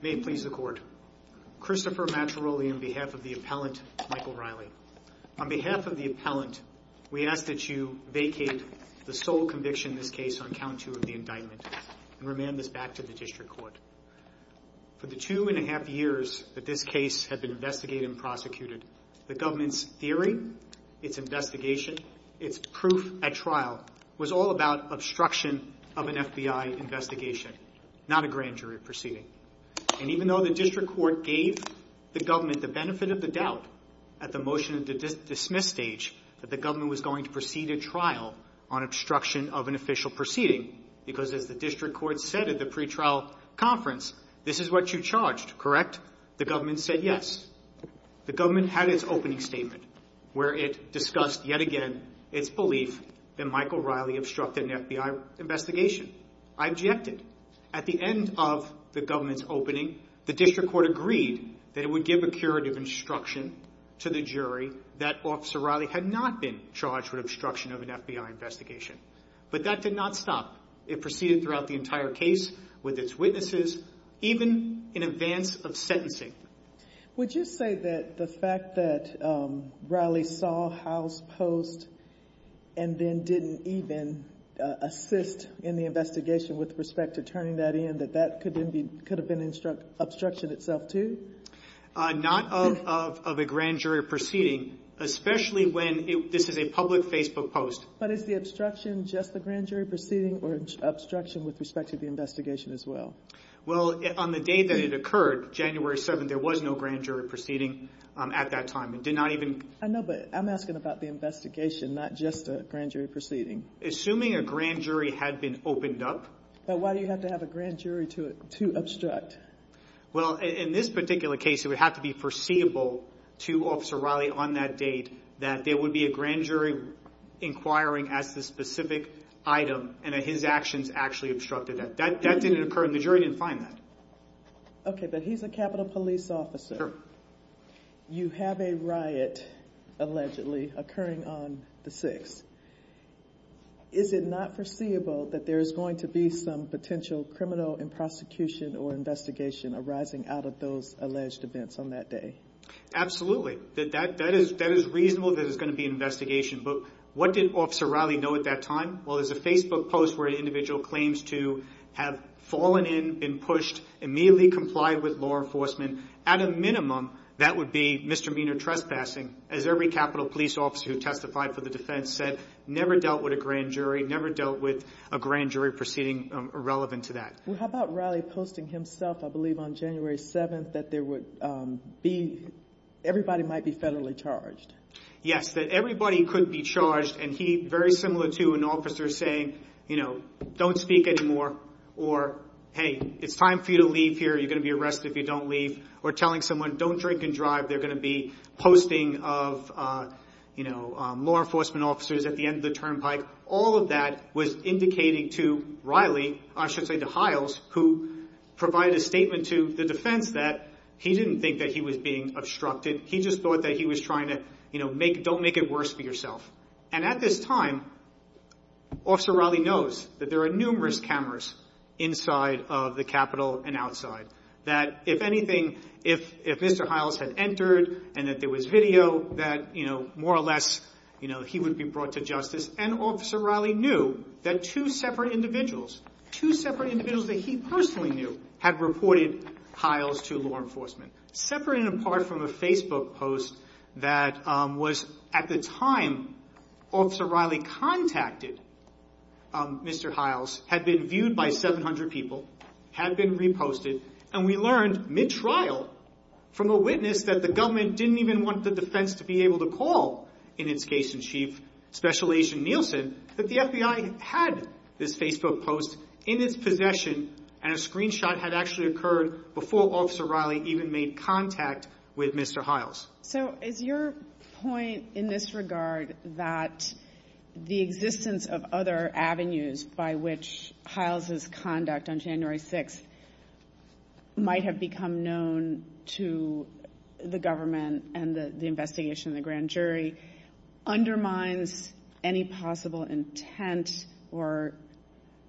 May it please the court, Christopher Matteroli on behalf of the appellant Michael Riley. On behalf of the appellant, we ask that you vacate the sole conviction in this case on account two of the indictment and remand this back to the district court. For the two and a half years that this case had been investigated and prosecuted, the government's theory, its investigation, its proof at trial, was all about obstruction of an FBI investigation, not a grand jury proceeding. And even though the district court gave the government the benefit of the doubt at the motion of the dismiss stage that the government was going to proceed a trial on obstruction of an official proceeding, because as the district court said at the pre-trial conference, this is what you charged, correct? The government said yes. The government had its opening statement where it discussed yet again its belief that Michael Riley obstructed an FBI investigation. I objected. At the end of the government's opening, the district court agreed that it would give a curative instruction to the jury that Officer Riley had not been charged with obstruction of an FBI investigation. But that did not stop. It proceeded throughout the entire case with its witnesses, even in advance of sentencing. Would you say that the fact that Riley saw House Post and then didn't even assist in the investigation with respect to turning that in, that that could have been obstruction itself too? Not of a grand jury proceeding, especially when this is a public Facebook post. But is the obstruction just the grand jury proceeding or obstruction with respect to the investigation as well? Well, on the day that it occurred, January 7th, there was no grand jury proceeding at that time. It did not even... I know, but I'm asking about the investigation, not just a grand jury proceeding. Assuming a grand jury had been opened up. But why do you have to have a grand jury to obstruct? Well, in this particular case, it would have to be foreseeable to Officer Riley on that date that there would be a grand jury inquiring as to the specific item and that his actions actually obstructed that. That didn't occur and the jury didn't find that. Okay, but he's a Capitol Police officer. You have a riot, allegedly, occurring on the 6th. Is it not foreseeable that there is going to be some potential criminal and prosecution or investigation arising out of those alleged events on that day? Absolutely. That is reasonable that there's going to be an investigation. But what did Officer Riley know at that time? Well, there's a Facebook post where an individual claims to have fallen in, been pushed, immediately complied with law enforcement. At a minimum, that would be misdemeanor trespassing. As every Capitol Police officer who testified for the defense said, never dealt with a grand jury, never dealt with a grand jury proceeding irrelevant to that. How about Riley posting himself, I believe, on January 7th that everybody might be federally charged? Yes, that everybody could be charged and he, very similar to an officer, saying, you know, don't speak anymore or, hey, it's time for you to leave here, you're going to be arrested if you don't leave. Or telling someone, don't drink and drive, they're going to be posting of law enforcement officers at the end of the turnpike. All of that was indicating to Riley, I should say to Hiles, who provided a statement to the defense that he didn't think that he was being obstructed. He just thought that he was trying to, you know, don't make it worse for yourself. And at this time, Officer Riley knows that there are numerous cameras inside of the Capitol and outside. That if anything, if Mr. Hiles had entered and that there was video, that, you know, more or less, you know, he would be brought to justice. And Officer Riley knew that two separate individuals, two separate individuals that he personally knew had reported Hiles to law enforcement. Separate and apart from a Facebook post that was at the time Officer Riley contacted Mr. Hiles, had been viewed by 700 people, had been reposted, and we learned mid-trial from a witness that the government didn't even want the defense to be able to call in its case in chief, Special Agent Nielsen, that the FBI had this Facebook post in its possession and a screenshot had actually occurred before Officer Riley even made contact with Mr. Hiles. So is your point in this regard that the existence of other avenues by which Hiles' conduct on January 6th might have become known to the government and the investigation of the defendant and jury undermines any possible intent or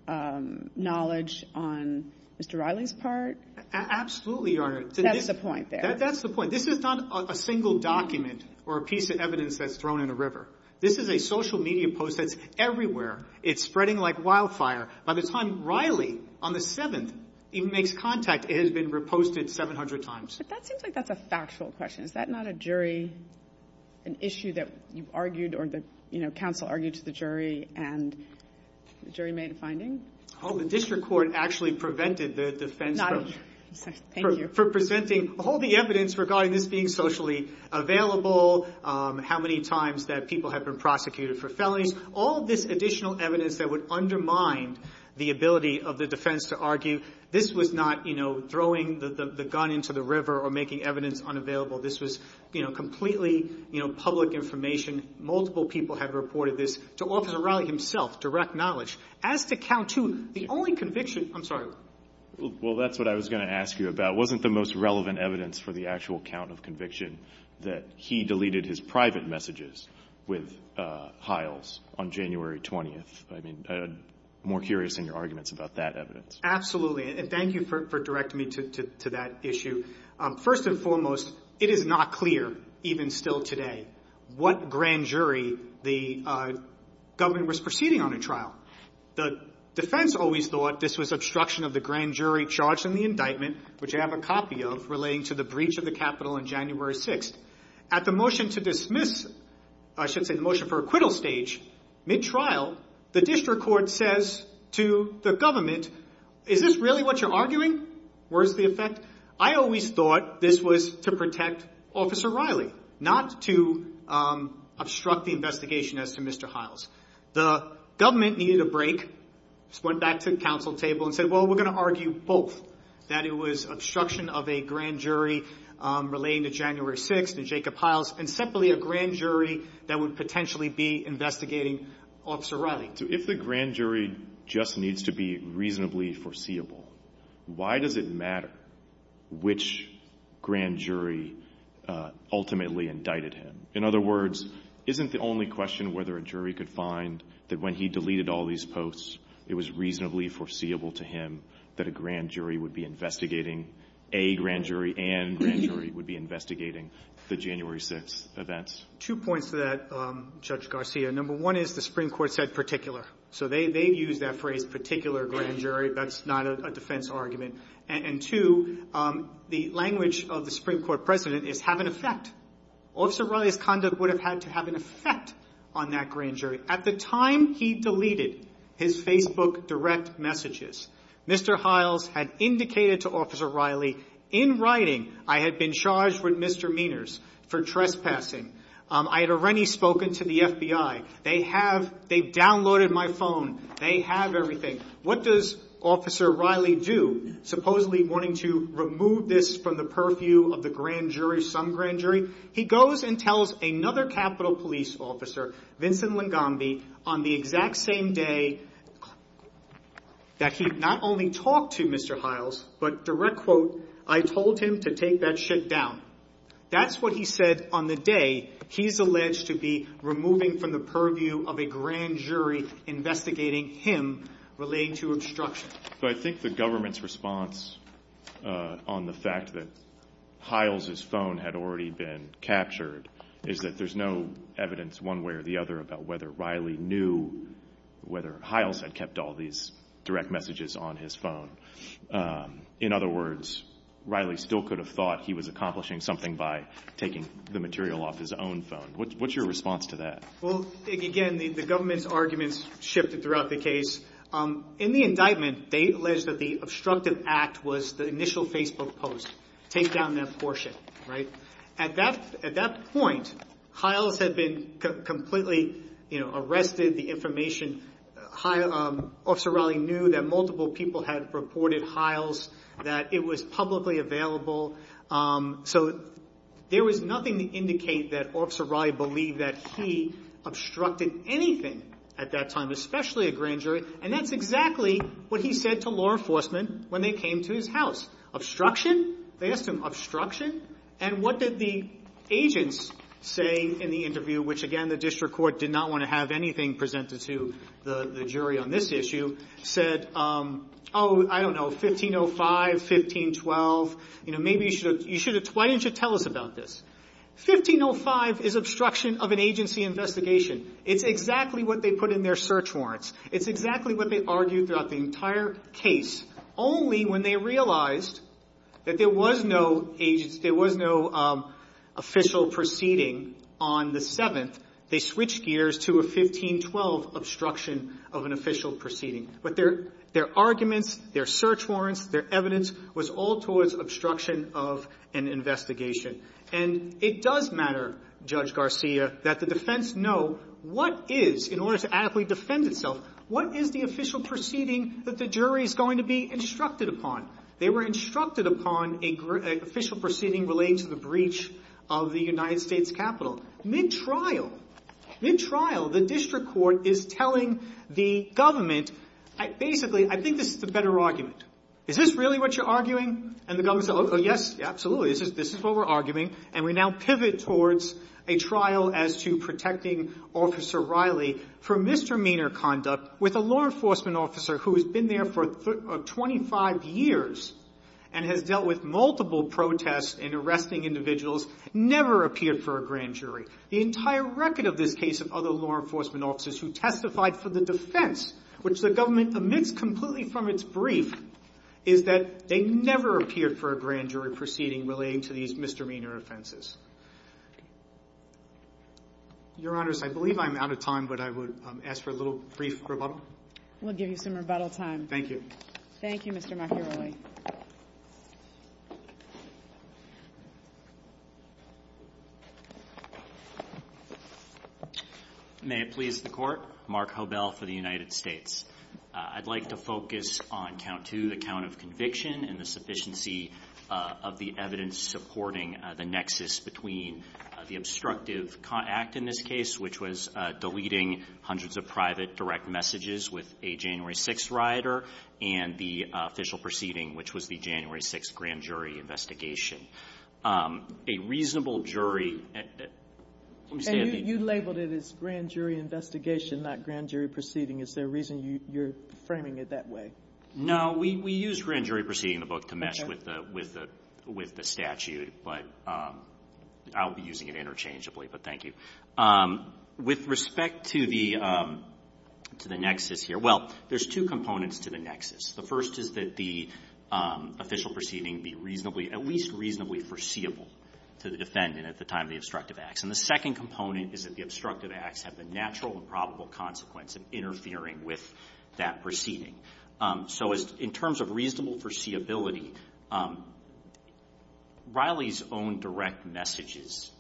knowledge on Mr. Riley's part? Absolutely, Your Honor. That's the point there. That's the point. This is not a single document or a piece of evidence that's thrown in a river. This is a social media post that's everywhere. It's spreading like wildfire. By the time Riley, on the 7th, even makes contact, it has been reposted 700 times. But that seems like that's a factual question. Is that not a jury, an issue that you've argued or the, you know, counsel argued to the jury and the jury made a finding? Oh, the district court actually prevented the defense from presenting all the evidence regarding this being socially available, how many times that people have been prosecuted for felonies, all this additional evidence that would undermine the ability of the defense to argue this was not, you know, throwing the gun into the river or making evidence unavailable. This was, you know, completely, you know, public information. Multiple people have reported this to Officer Riley himself, direct knowledge. As to count two, the only conviction, I'm sorry. Well, that's what I was going to ask you about. Wasn't the most relevant evidence for the actual count of conviction that he deleted his private messages with Hiles on January 20th? I mean, I'm more curious in your arguments about that evidence. Absolutely. And thank you for directing me to that issue. First and foremost, it is not clear even still today what grand jury the government was proceeding on a trial. The defense always thought this was obstruction of the grand jury charged in the indictment, which I have a copy of relating to the breach of the capital on January 6th. At the motion to dismiss, I should say the motion for acquittal stage, mid-trial, the district court says to the government, is this really what you're arguing? Where's the effect? I always thought this was to protect Officer Riley, not to obstruct the investigation as to Mr. Hiles. The government needed a break, so went back to the council table and said, well, we're going to argue both. That it was obstruction of a grand jury relating to January 6th and Jacob Hiles and simply a grand jury that would potentially be investigating Officer Riley. If the grand jury just needs to be reasonably foreseeable, why does it matter which grand jury ultimately indicted him? In other words, isn't the only question whether a jury could find that when he deleted all these posts, it was reasonably foreseeable to him that a grand jury would be investigating a grand jury and a grand jury would be investigating the January 6th events? Two points to that, Judge Garcia. Number one is the Supreme Court said particular. So they've used that phrase, particular grand jury. That's not a defense argument. And two, the language of the Supreme Court president is have an effect. Officer Riley's conduct would have had to have an effect on that grand jury. At the time he deleted his Facebook direct messages, Mr. Hiles had indicated to Officer Riley in writing, I had been charged with misdemeanors for trespassing. I had already spoken to the FBI. They have, they've downloaded my phone. They have everything. What does Officer Riley do, supposedly wanting to remove this from the purview of the grand jury, some grand jury? He goes and tells another Capitol Police officer, Vincent Lengamby, on the exact same day that he not only talked to Mr. Hiles, but direct quote, I told him to take that shit down. That's what he said on the day he's alleged to be removing from the purview of a grand jury investigating him relating to obstruction. So I think the government's response on the fact that Hiles' phone had already been captured is that there's no evidence one way or the other about whether Riley knew whether Hiles had kept all these direct messages on his phone. In other words, Riley still could have thought he was accomplishing something by taking the material off his own phone. What's your response to that? Well, again, the government's arguments shifted throughout the case. In the indictment, they alleged that the obstructive act was the initial Facebook post, take down that portion, right? At that point, Hiles had been completely arrested. The information, Officer Riley knew that multiple people had reported Hiles, that it was publicly available. So there was nothing to indicate that Officer Riley believed that he obstructed anything at that time, especially a grand jury. And that's exactly what he said to law enforcement when they came to his house. Obstruction? They asked him, obstruction? And what did the agents say in the interview, which again, the district court did not want to have anything presented to the jury on this issue, said, oh, I don't know, 1505, 1512, you know, maybe you should have, why didn't you tell us about this? 1505 is obstruction of an agency investigation. It's exactly what they put in their search warrants. It's exactly what they argued throughout the entire case. Only when they realized that there was no agency, there was no official proceeding on the 7th, they switched gears to a 1512 obstruction of an official proceeding. But their arguments, their search warrants, their evidence was all towards obstruction of an investigation. And it does matter, Judge Garcia, that the defense know what is, in order to adequately defend itself, what is the official proceeding that the jury is going to be instructed upon. They were instructed upon an official proceeding related to the breach of the United States Capitol. Mid-trial, mid-trial, the district court is telling the government, basically, I think this is the better argument. Is this really what you're arguing? And the government said, oh, yes, absolutely, this is what we're arguing. And we now pivot towards a trial as to protecting Officer Riley for misdemeanor conduct with a law enforcement officer who has been there for 25 years and has dealt with multiple protests and arresting individuals, never appeared for a grand jury. The entire record of this case of other law enforcement officers who testified for the defense, which the government omits completely from its brief, is that they never appeared for a grand jury proceeding relating to these misdemeanor offenses. Your Honors, I believe I'm out of time, but I would ask for a little brief rebuttal. We'll give you some rebuttal time. Thank you. Thank you, Mr. Macchiaroli. May it please the Court. Mark Hobel for the United States. I'd like to focus on count two, the count of conviction and the sufficiency of the evidence supporting the nexus between the obstructive act in this case, which was deleting hundreds of private direct messages with a January 6th rioter and the official proceeding, which was the January 6th grand jury investigation. A reasonable jury... You labeled it as grand jury investigation, not grand jury proceeding. Is there a reason you're framing it that way? No. We used grand jury proceeding in the book to mesh with the statute, but I'll be using it interchangeably, but thank you. With respect to the nexus here, well, there's two components to the nexus. The first is that the official proceeding be reasonably, at least reasonably foreseeable to the defendant at the time of the obstructive acts. And the second component is that the obstructive acts have the natural and probable consequence of interfering with that proceeding. So in terms of reasonable foreseeability, Riley's own direct messages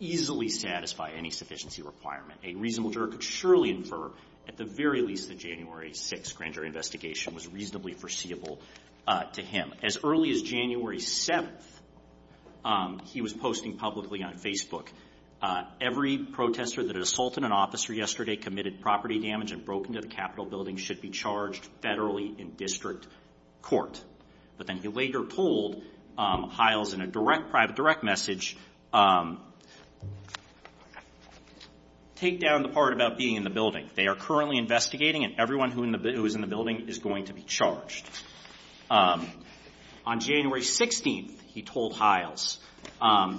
easily satisfy any sufficiency requirement. A reasonable jury could surely infer at the very least the January 6th grand jury investigation was reasonably foreseeable to him. As early as January 7th, he was posting publicly on Facebook, every protester that assaulted an officer yesterday committed property damage and broke into the Capitol building should be charged federally in district court. But then he later told Hiles in a direct private direct message, take down the part about being in the building. They are currently investigating and everyone who is in the building is going to be charged. On January 16th, he told Hiles,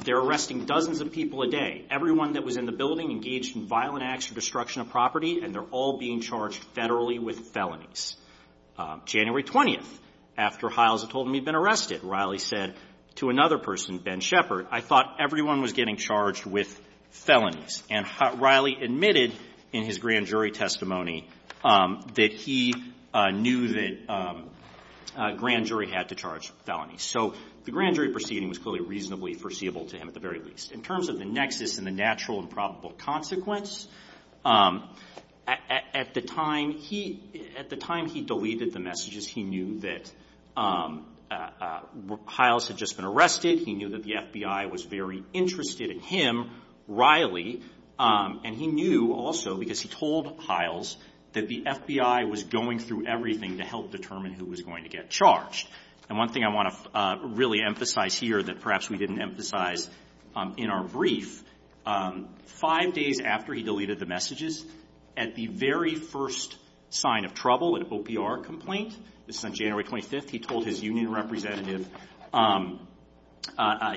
they're arresting dozens of people a day. Everyone that was in the building engaged in violent acts or destruction of property and they're all being charged federally with felonies. January 20th, after Hiles had told him he'd been arrested, Riley said to another person, Ben Shepard, I thought everyone was getting charged with felonies. And Riley admitted in his grand jury testimony that he knew that grand jury had to charge felonies. So the grand jury proceeding was clearly reasonably foreseeable to him at the very least. In terms of the nexus and the natural and probable consequence, at the time he deleted the messages, he knew that Hiles had just been arrested. He knew that the FBI was very interested in him. Riley, and he knew also because he told Hiles that the FBI was going through everything to help determine who was going to get charged. And one thing I want to really emphasize here that perhaps we didn't emphasize in our brief, five days after he deleted the messages, at the very first sign of trouble in an OPR complaint, this is on January 25th, he told his union representative,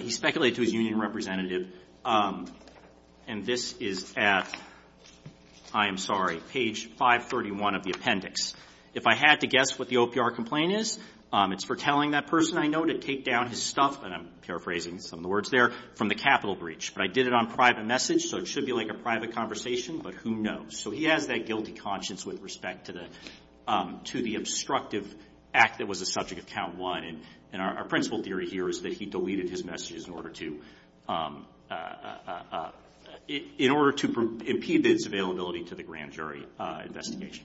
he speculated to his union representative, and this is at, I am sorry, page 531 of the appendix. If I had to guess what the OPR complaint is, it's for telling that person I know to take down his stuff, and I'm paraphrasing some of the words there, from the Capitol breach. But I did it on private message, so it should be like a private conversation, but who knows? So he has that guilty conscience with respect to the obstructive act that was the subject of count one. And our principle theory here is that he deleted his messages in order to, in order to impede his availability to the grand jury investigation.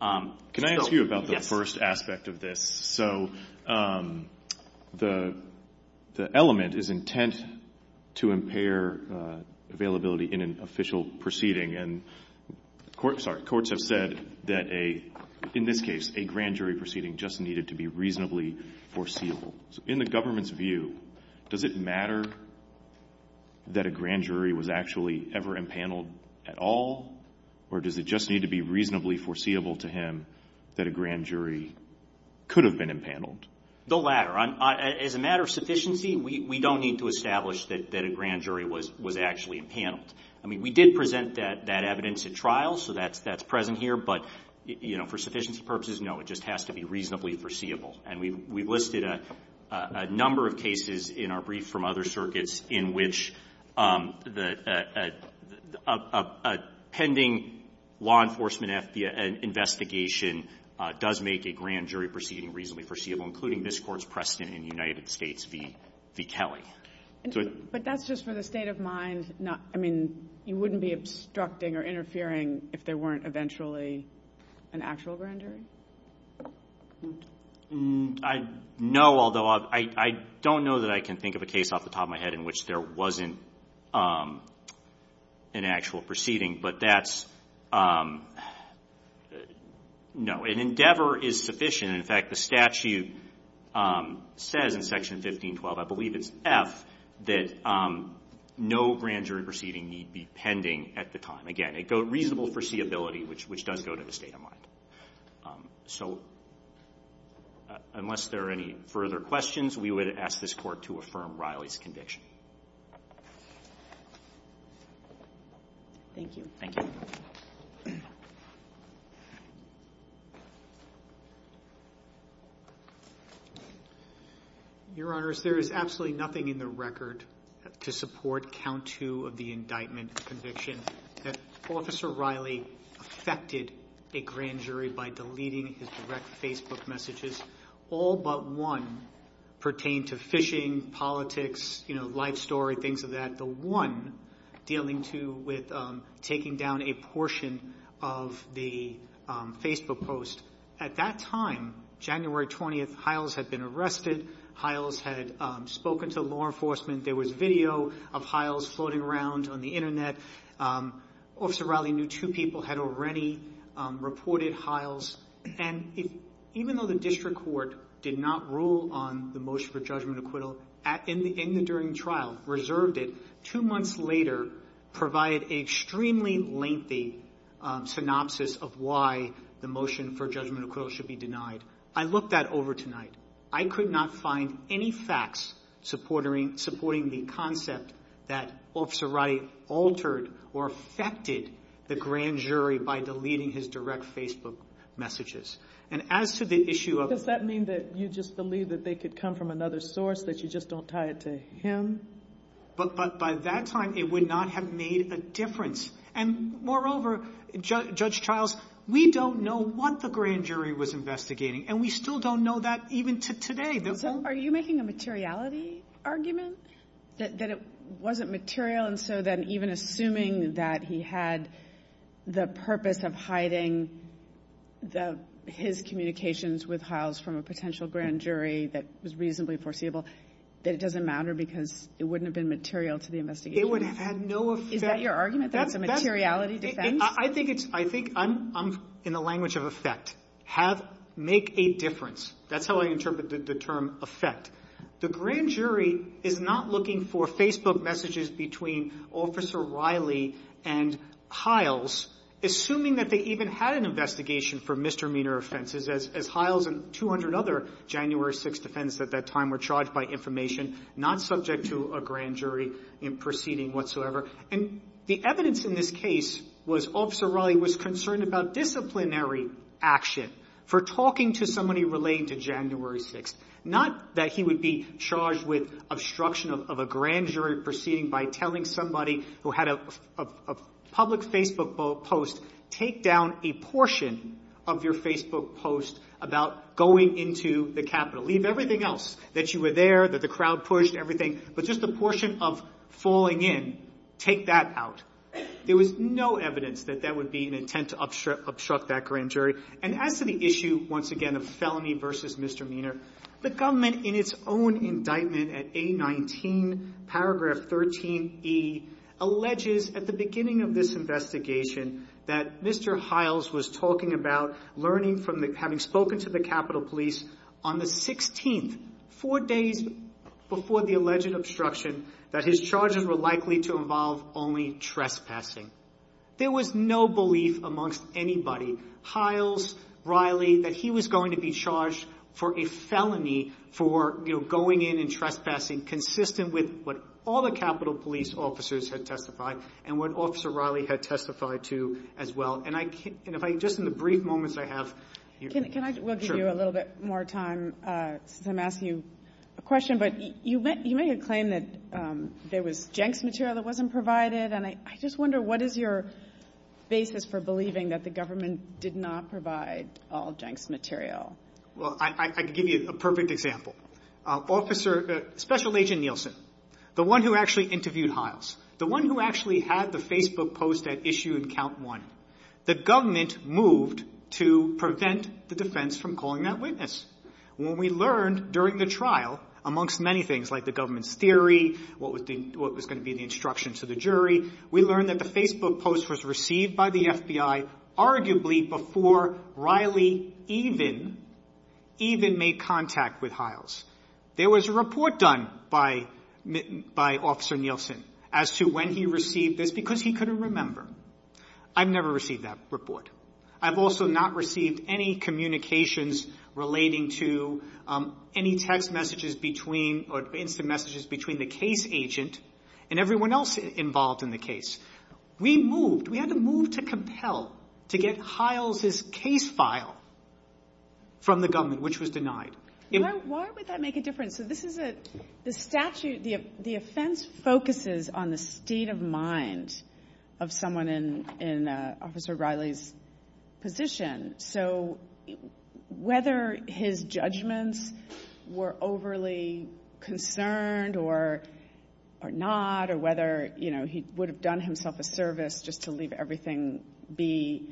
Can I ask you about the first aspect of this? So the element is intent to impair availability in an official proceeding. And courts have said that a, in this case, a grand jury proceeding just needed to be reasonably foreseeable. So in the government's view, does it matter that a grand jury was actually ever impaneled at all, or does it just need to be reasonably foreseeable to him that a grand jury could have been impaneled? The latter. As a matter of sufficiency, we don't need to establish that a grand jury was actually impaneled. I mean, we did present that evidence at trial, so that's present here. But, you know, for sufficiency purposes, no. It just has to be reasonably foreseeable. And we've listed a number of cases in our brief from other circuits in which the pending law enforcement investigation does make a grand jury proceeding reasonably foreseeable, including this Court's precedent in the United States v. Kelly. But that's just for the state of mind. I mean, you wouldn't be obstructing or interfering if there weren't eventually an actual grand jury? I know, although I don't know that I can think of a case off the top of my head in which there wasn't an actual proceeding. But that's no. An endeavor is sufficient. In fact, the statute says in Section 1512, I believe it's F, that no grand jury proceeding need be pending at the time. Again, a reasonable foreseeability, which does go to the state of mind. So unless there are any further questions, we would ask this Court to affirm Riley's conviction. Thank you. Thank you. Your Honor, there is absolutely nothing in the record to support count two of the indictment conviction that Officer Riley affected a grand jury by deleting his direct Facebook messages. All but one pertained to phishing, politics, life story, things of that. The one dealing with taking down a portion of the Facebook post. At that time, January 20th, Hiles had been arrested. Hiles had spoken to law enforcement. There was video of Hiles floating around on the Internet. Officer Riley knew two people had already reported Hiles. And even though the district court did not rule on the motion for judgment acquittal in the during trial, reserved it, two months later provided an extremely lengthy synopsis of why the motion for judgment acquittal should be denied. I looked that over tonight. I could not find any facts supporting the concept that Officer Riley altered or affected the grand jury by deleting his direct Facebook messages. And as to the issue of... Does that mean that you just believe that they could come from another source, that you just don't tie it to him? But by that time, it would not have made a difference. And moreover, Judge Childs, we don't know what the grand jury was investigating. And we still don't know that even today. And so are you making a materiality argument that it wasn't material? And so then even assuming that he had the purpose of hiding his communications with Hiles from a potential grand jury that was reasonably foreseeable, that it doesn't matter because it wouldn't have been material to the investigation? It would have had no effect. Is that your argument? That's a materiality defense? I think it's – I think I'm in the language of effect. Have – make a difference. That's how I interpret the term effect. The grand jury is not looking for Facebook messages between Officer Riley and Hiles, assuming that they even had an investigation for misdemeanor offenses, as Hiles and 200 other January 6th defendants at that time were charged by information, not subject to a grand jury in proceeding whatsoever. And the evidence in this case was Officer Riley was concerned about disciplinary action for talking to somebody relating to January 6th, not that he would be charged with obstruction of a grand jury proceeding by telling somebody who had a public Facebook post, take down a portion of your Facebook post about going into the Capitol. Leave everything else, that you were there, that the crowd pushed, everything, but just the portion of falling in, take that out. There was no evidence that that would be an attempt to obstruct that grand jury. And as to the issue, once again, of felony versus misdemeanor, the government in its own indictment at A19, paragraph 13E, alleges at the beginning of this investigation that Mr. Hiles was talking about learning from the – having spoken to the Capitol Police on the 16th, four days before the alleged obstruction, that his charges were likely to involve only trespassing. There was no belief amongst anybody, Hiles, Riley, that he was going to be charged for a felony for, you know, going in and trespassing consistent with what all the Capitol Police officers had testified and what Officer Riley had testified to as well. And I – and if I – just in the brief moments I have – Can I – we'll give you a little bit more time since I'm asking you a question, but you made a claim that there was Jenks material that wasn't provided, and I just wonder what is your basis for believing that the government did not provide all Jenks material? Well, I can give you a perfect example. Officer – Special Agent Nielsen, the one who actually interviewed Hiles, the one who actually had the Facebook post at issue and count one, the government moved to prevent the defense from calling that witness. When we learned during the trial, amongst many things like the government's theory, what was the – what was going to be the instruction to the jury, we learned that the Facebook post was received by the FBI arguably before Riley even – even made contact with Hiles. There was a report done by – by Officer Nielsen as to when he received this because he couldn't remember. I've never received that report. I've also not received any communications relating to any text messages between – or instant messages between the case agent and everyone else involved in the case. We moved – we had to move to compel to get Hiles' case file from the government, which was denied. Why would that make a difference? So this is a – the statute – the offense focuses on the state of mind of someone in – in Officer Riley's position. So whether his judgments were overly concerned or – or not or whether, you know, he would have done himself a service just to leave everything be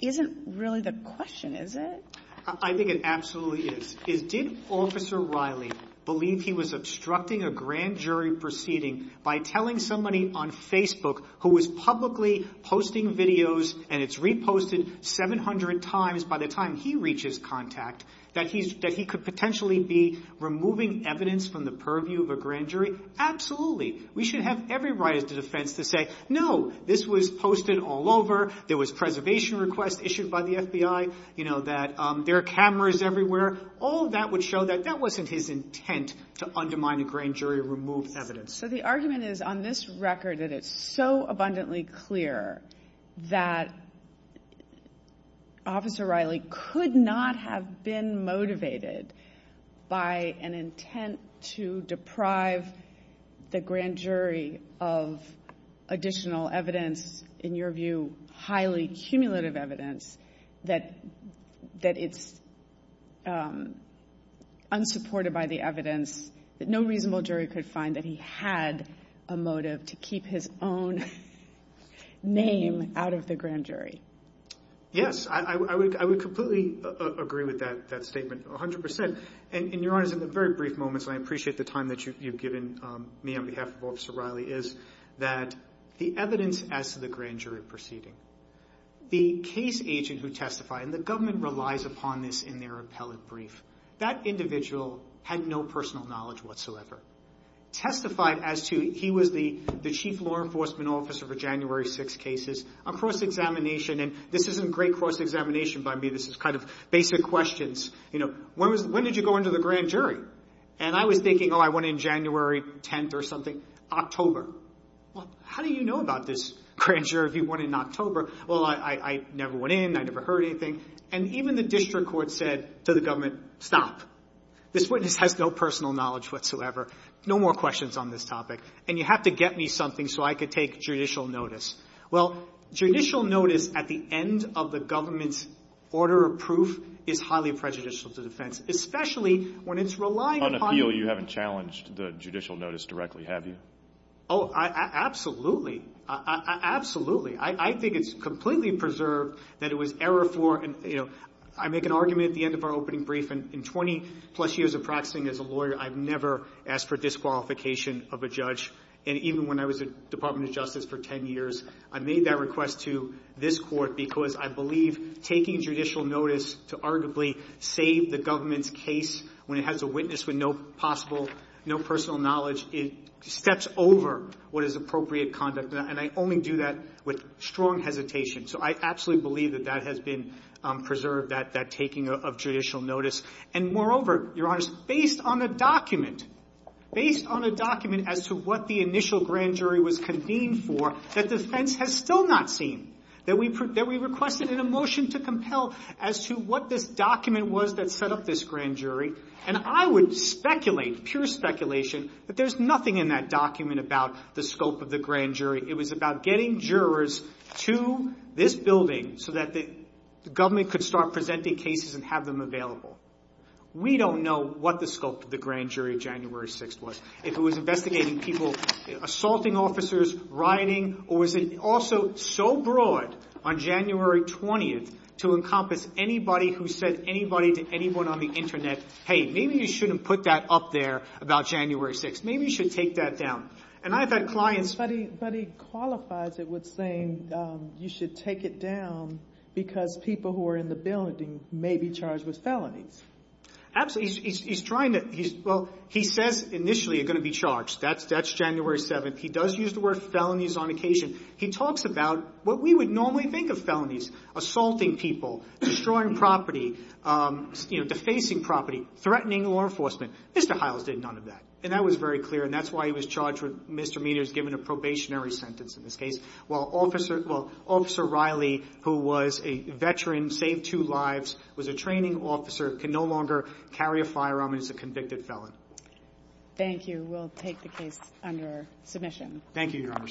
isn't really the question, is it? I think it absolutely is. Is – did Officer Riley believe he was obstructing a grand jury proceeding by telling somebody on Facebook who was publicly posting videos and it's reposted 700 times by the time he reaches contact that he's – that he could potentially be removing evidence from the purview of a grand jury? Absolutely. We should have every right as defense to say, no, this was posted all over. There was preservation requests issued by the FBI, you know, that there are cameras everywhere. All that would show that that wasn't his intent to undermine a grand jury or remove evidence. So the argument is on this record that it's so abundantly clear that Officer Riley could not have been motivated by an intent to deprive the grand jury of additional evidence, in your view, highly cumulative evidence that – that it's unsupported by the evidence that no reasonable jury could find that he had a motive to keep his own name out of the grand jury. Yes. I would completely agree with that statement, 100 percent. And, Your Honors, in the very brief moments, and I appreciate the time that you've given me on behalf of Officer Proceeding, the case agent who testified – and the government relies upon this in their appellate brief – that individual had no personal knowledge whatsoever. Testified as to – he was the – the chief law enforcement officer for January 6th cases. A cross-examination – and this isn't great cross-examination by me. This is kind of basic questions. You know, when was – when did you go into the grand jury? And I was thinking, oh, I went in January 10th or something. October. Well, how do you know about this grand jury if you went in October? Well, I – I never went in. I never heard anything. And even the district court said to the government, stop. This witness has no personal knowledge whatsoever. No more questions on this topic. And you have to get me something so I could take judicial notice. Well, judicial notice at the end of the government's order of proof is highly prejudicial to defense, especially when it's relying upon – On appeal, you haven't challenged the judicial notice directly, have you? Oh, absolutely. Absolutely. I think it's completely preserved that it was error for – and, you know, I make an argument at the end of our opening brief. In 20-plus years of practicing as a lawyer, I've never asked for disqualification of a judge. And even when I was at the Department of Justice for 10 years, I made that request to this court because I believe taking judicial notice to arguably save the government's case when it has a witness with no possible – no over what is appropriate conduct. And I only do that with strong hesitation. So I absolutely believe that that has been preserved, that taking of judicial notice. And moreover, Your Honors, based on a document – based on a document as to what the initial grand jury was convened for, that defense has still not seen, that we requested in a motion to compel as to what this document was that set up this grand jury. And I would speculate, pure speculation, that there's nothing in that document about the scope of the grand jury. It was about getting jurors to this building so that the government could start presenting cases and have them available. We don't know what the scope of the grand jury of January 6th was, if it was investigating people – assaulting officers, rioting, or was it also so broad on January 20th to encompass anybody who said anybody to anyone on the Internet, hey, maybe you shouldn't put that up there about January 6th. Maybe you should take that down. And I've had clients – But he qualifies it with saying you should take it down because people who are in the building may be charged with felonies. Absolutely. He's trying to – well, he says initially you're going to be charged. That's January 7th. He does use the word felonies on occasion. He talks about what we would normally think of felonies – assaulting people, destroying property, defacing property, threatening law enforcement. Mr. Hiles did none of that. And that was very clear. And that's why he was charged with – Mr. Mead is given a probationary sentence in this case, while Officer Riley, who was a veteran, saved two lives, was a training officer, can no longer carry a firearm and is a convicted felon. Thank you. We'll take the case under submission. Thank you, Your Honor.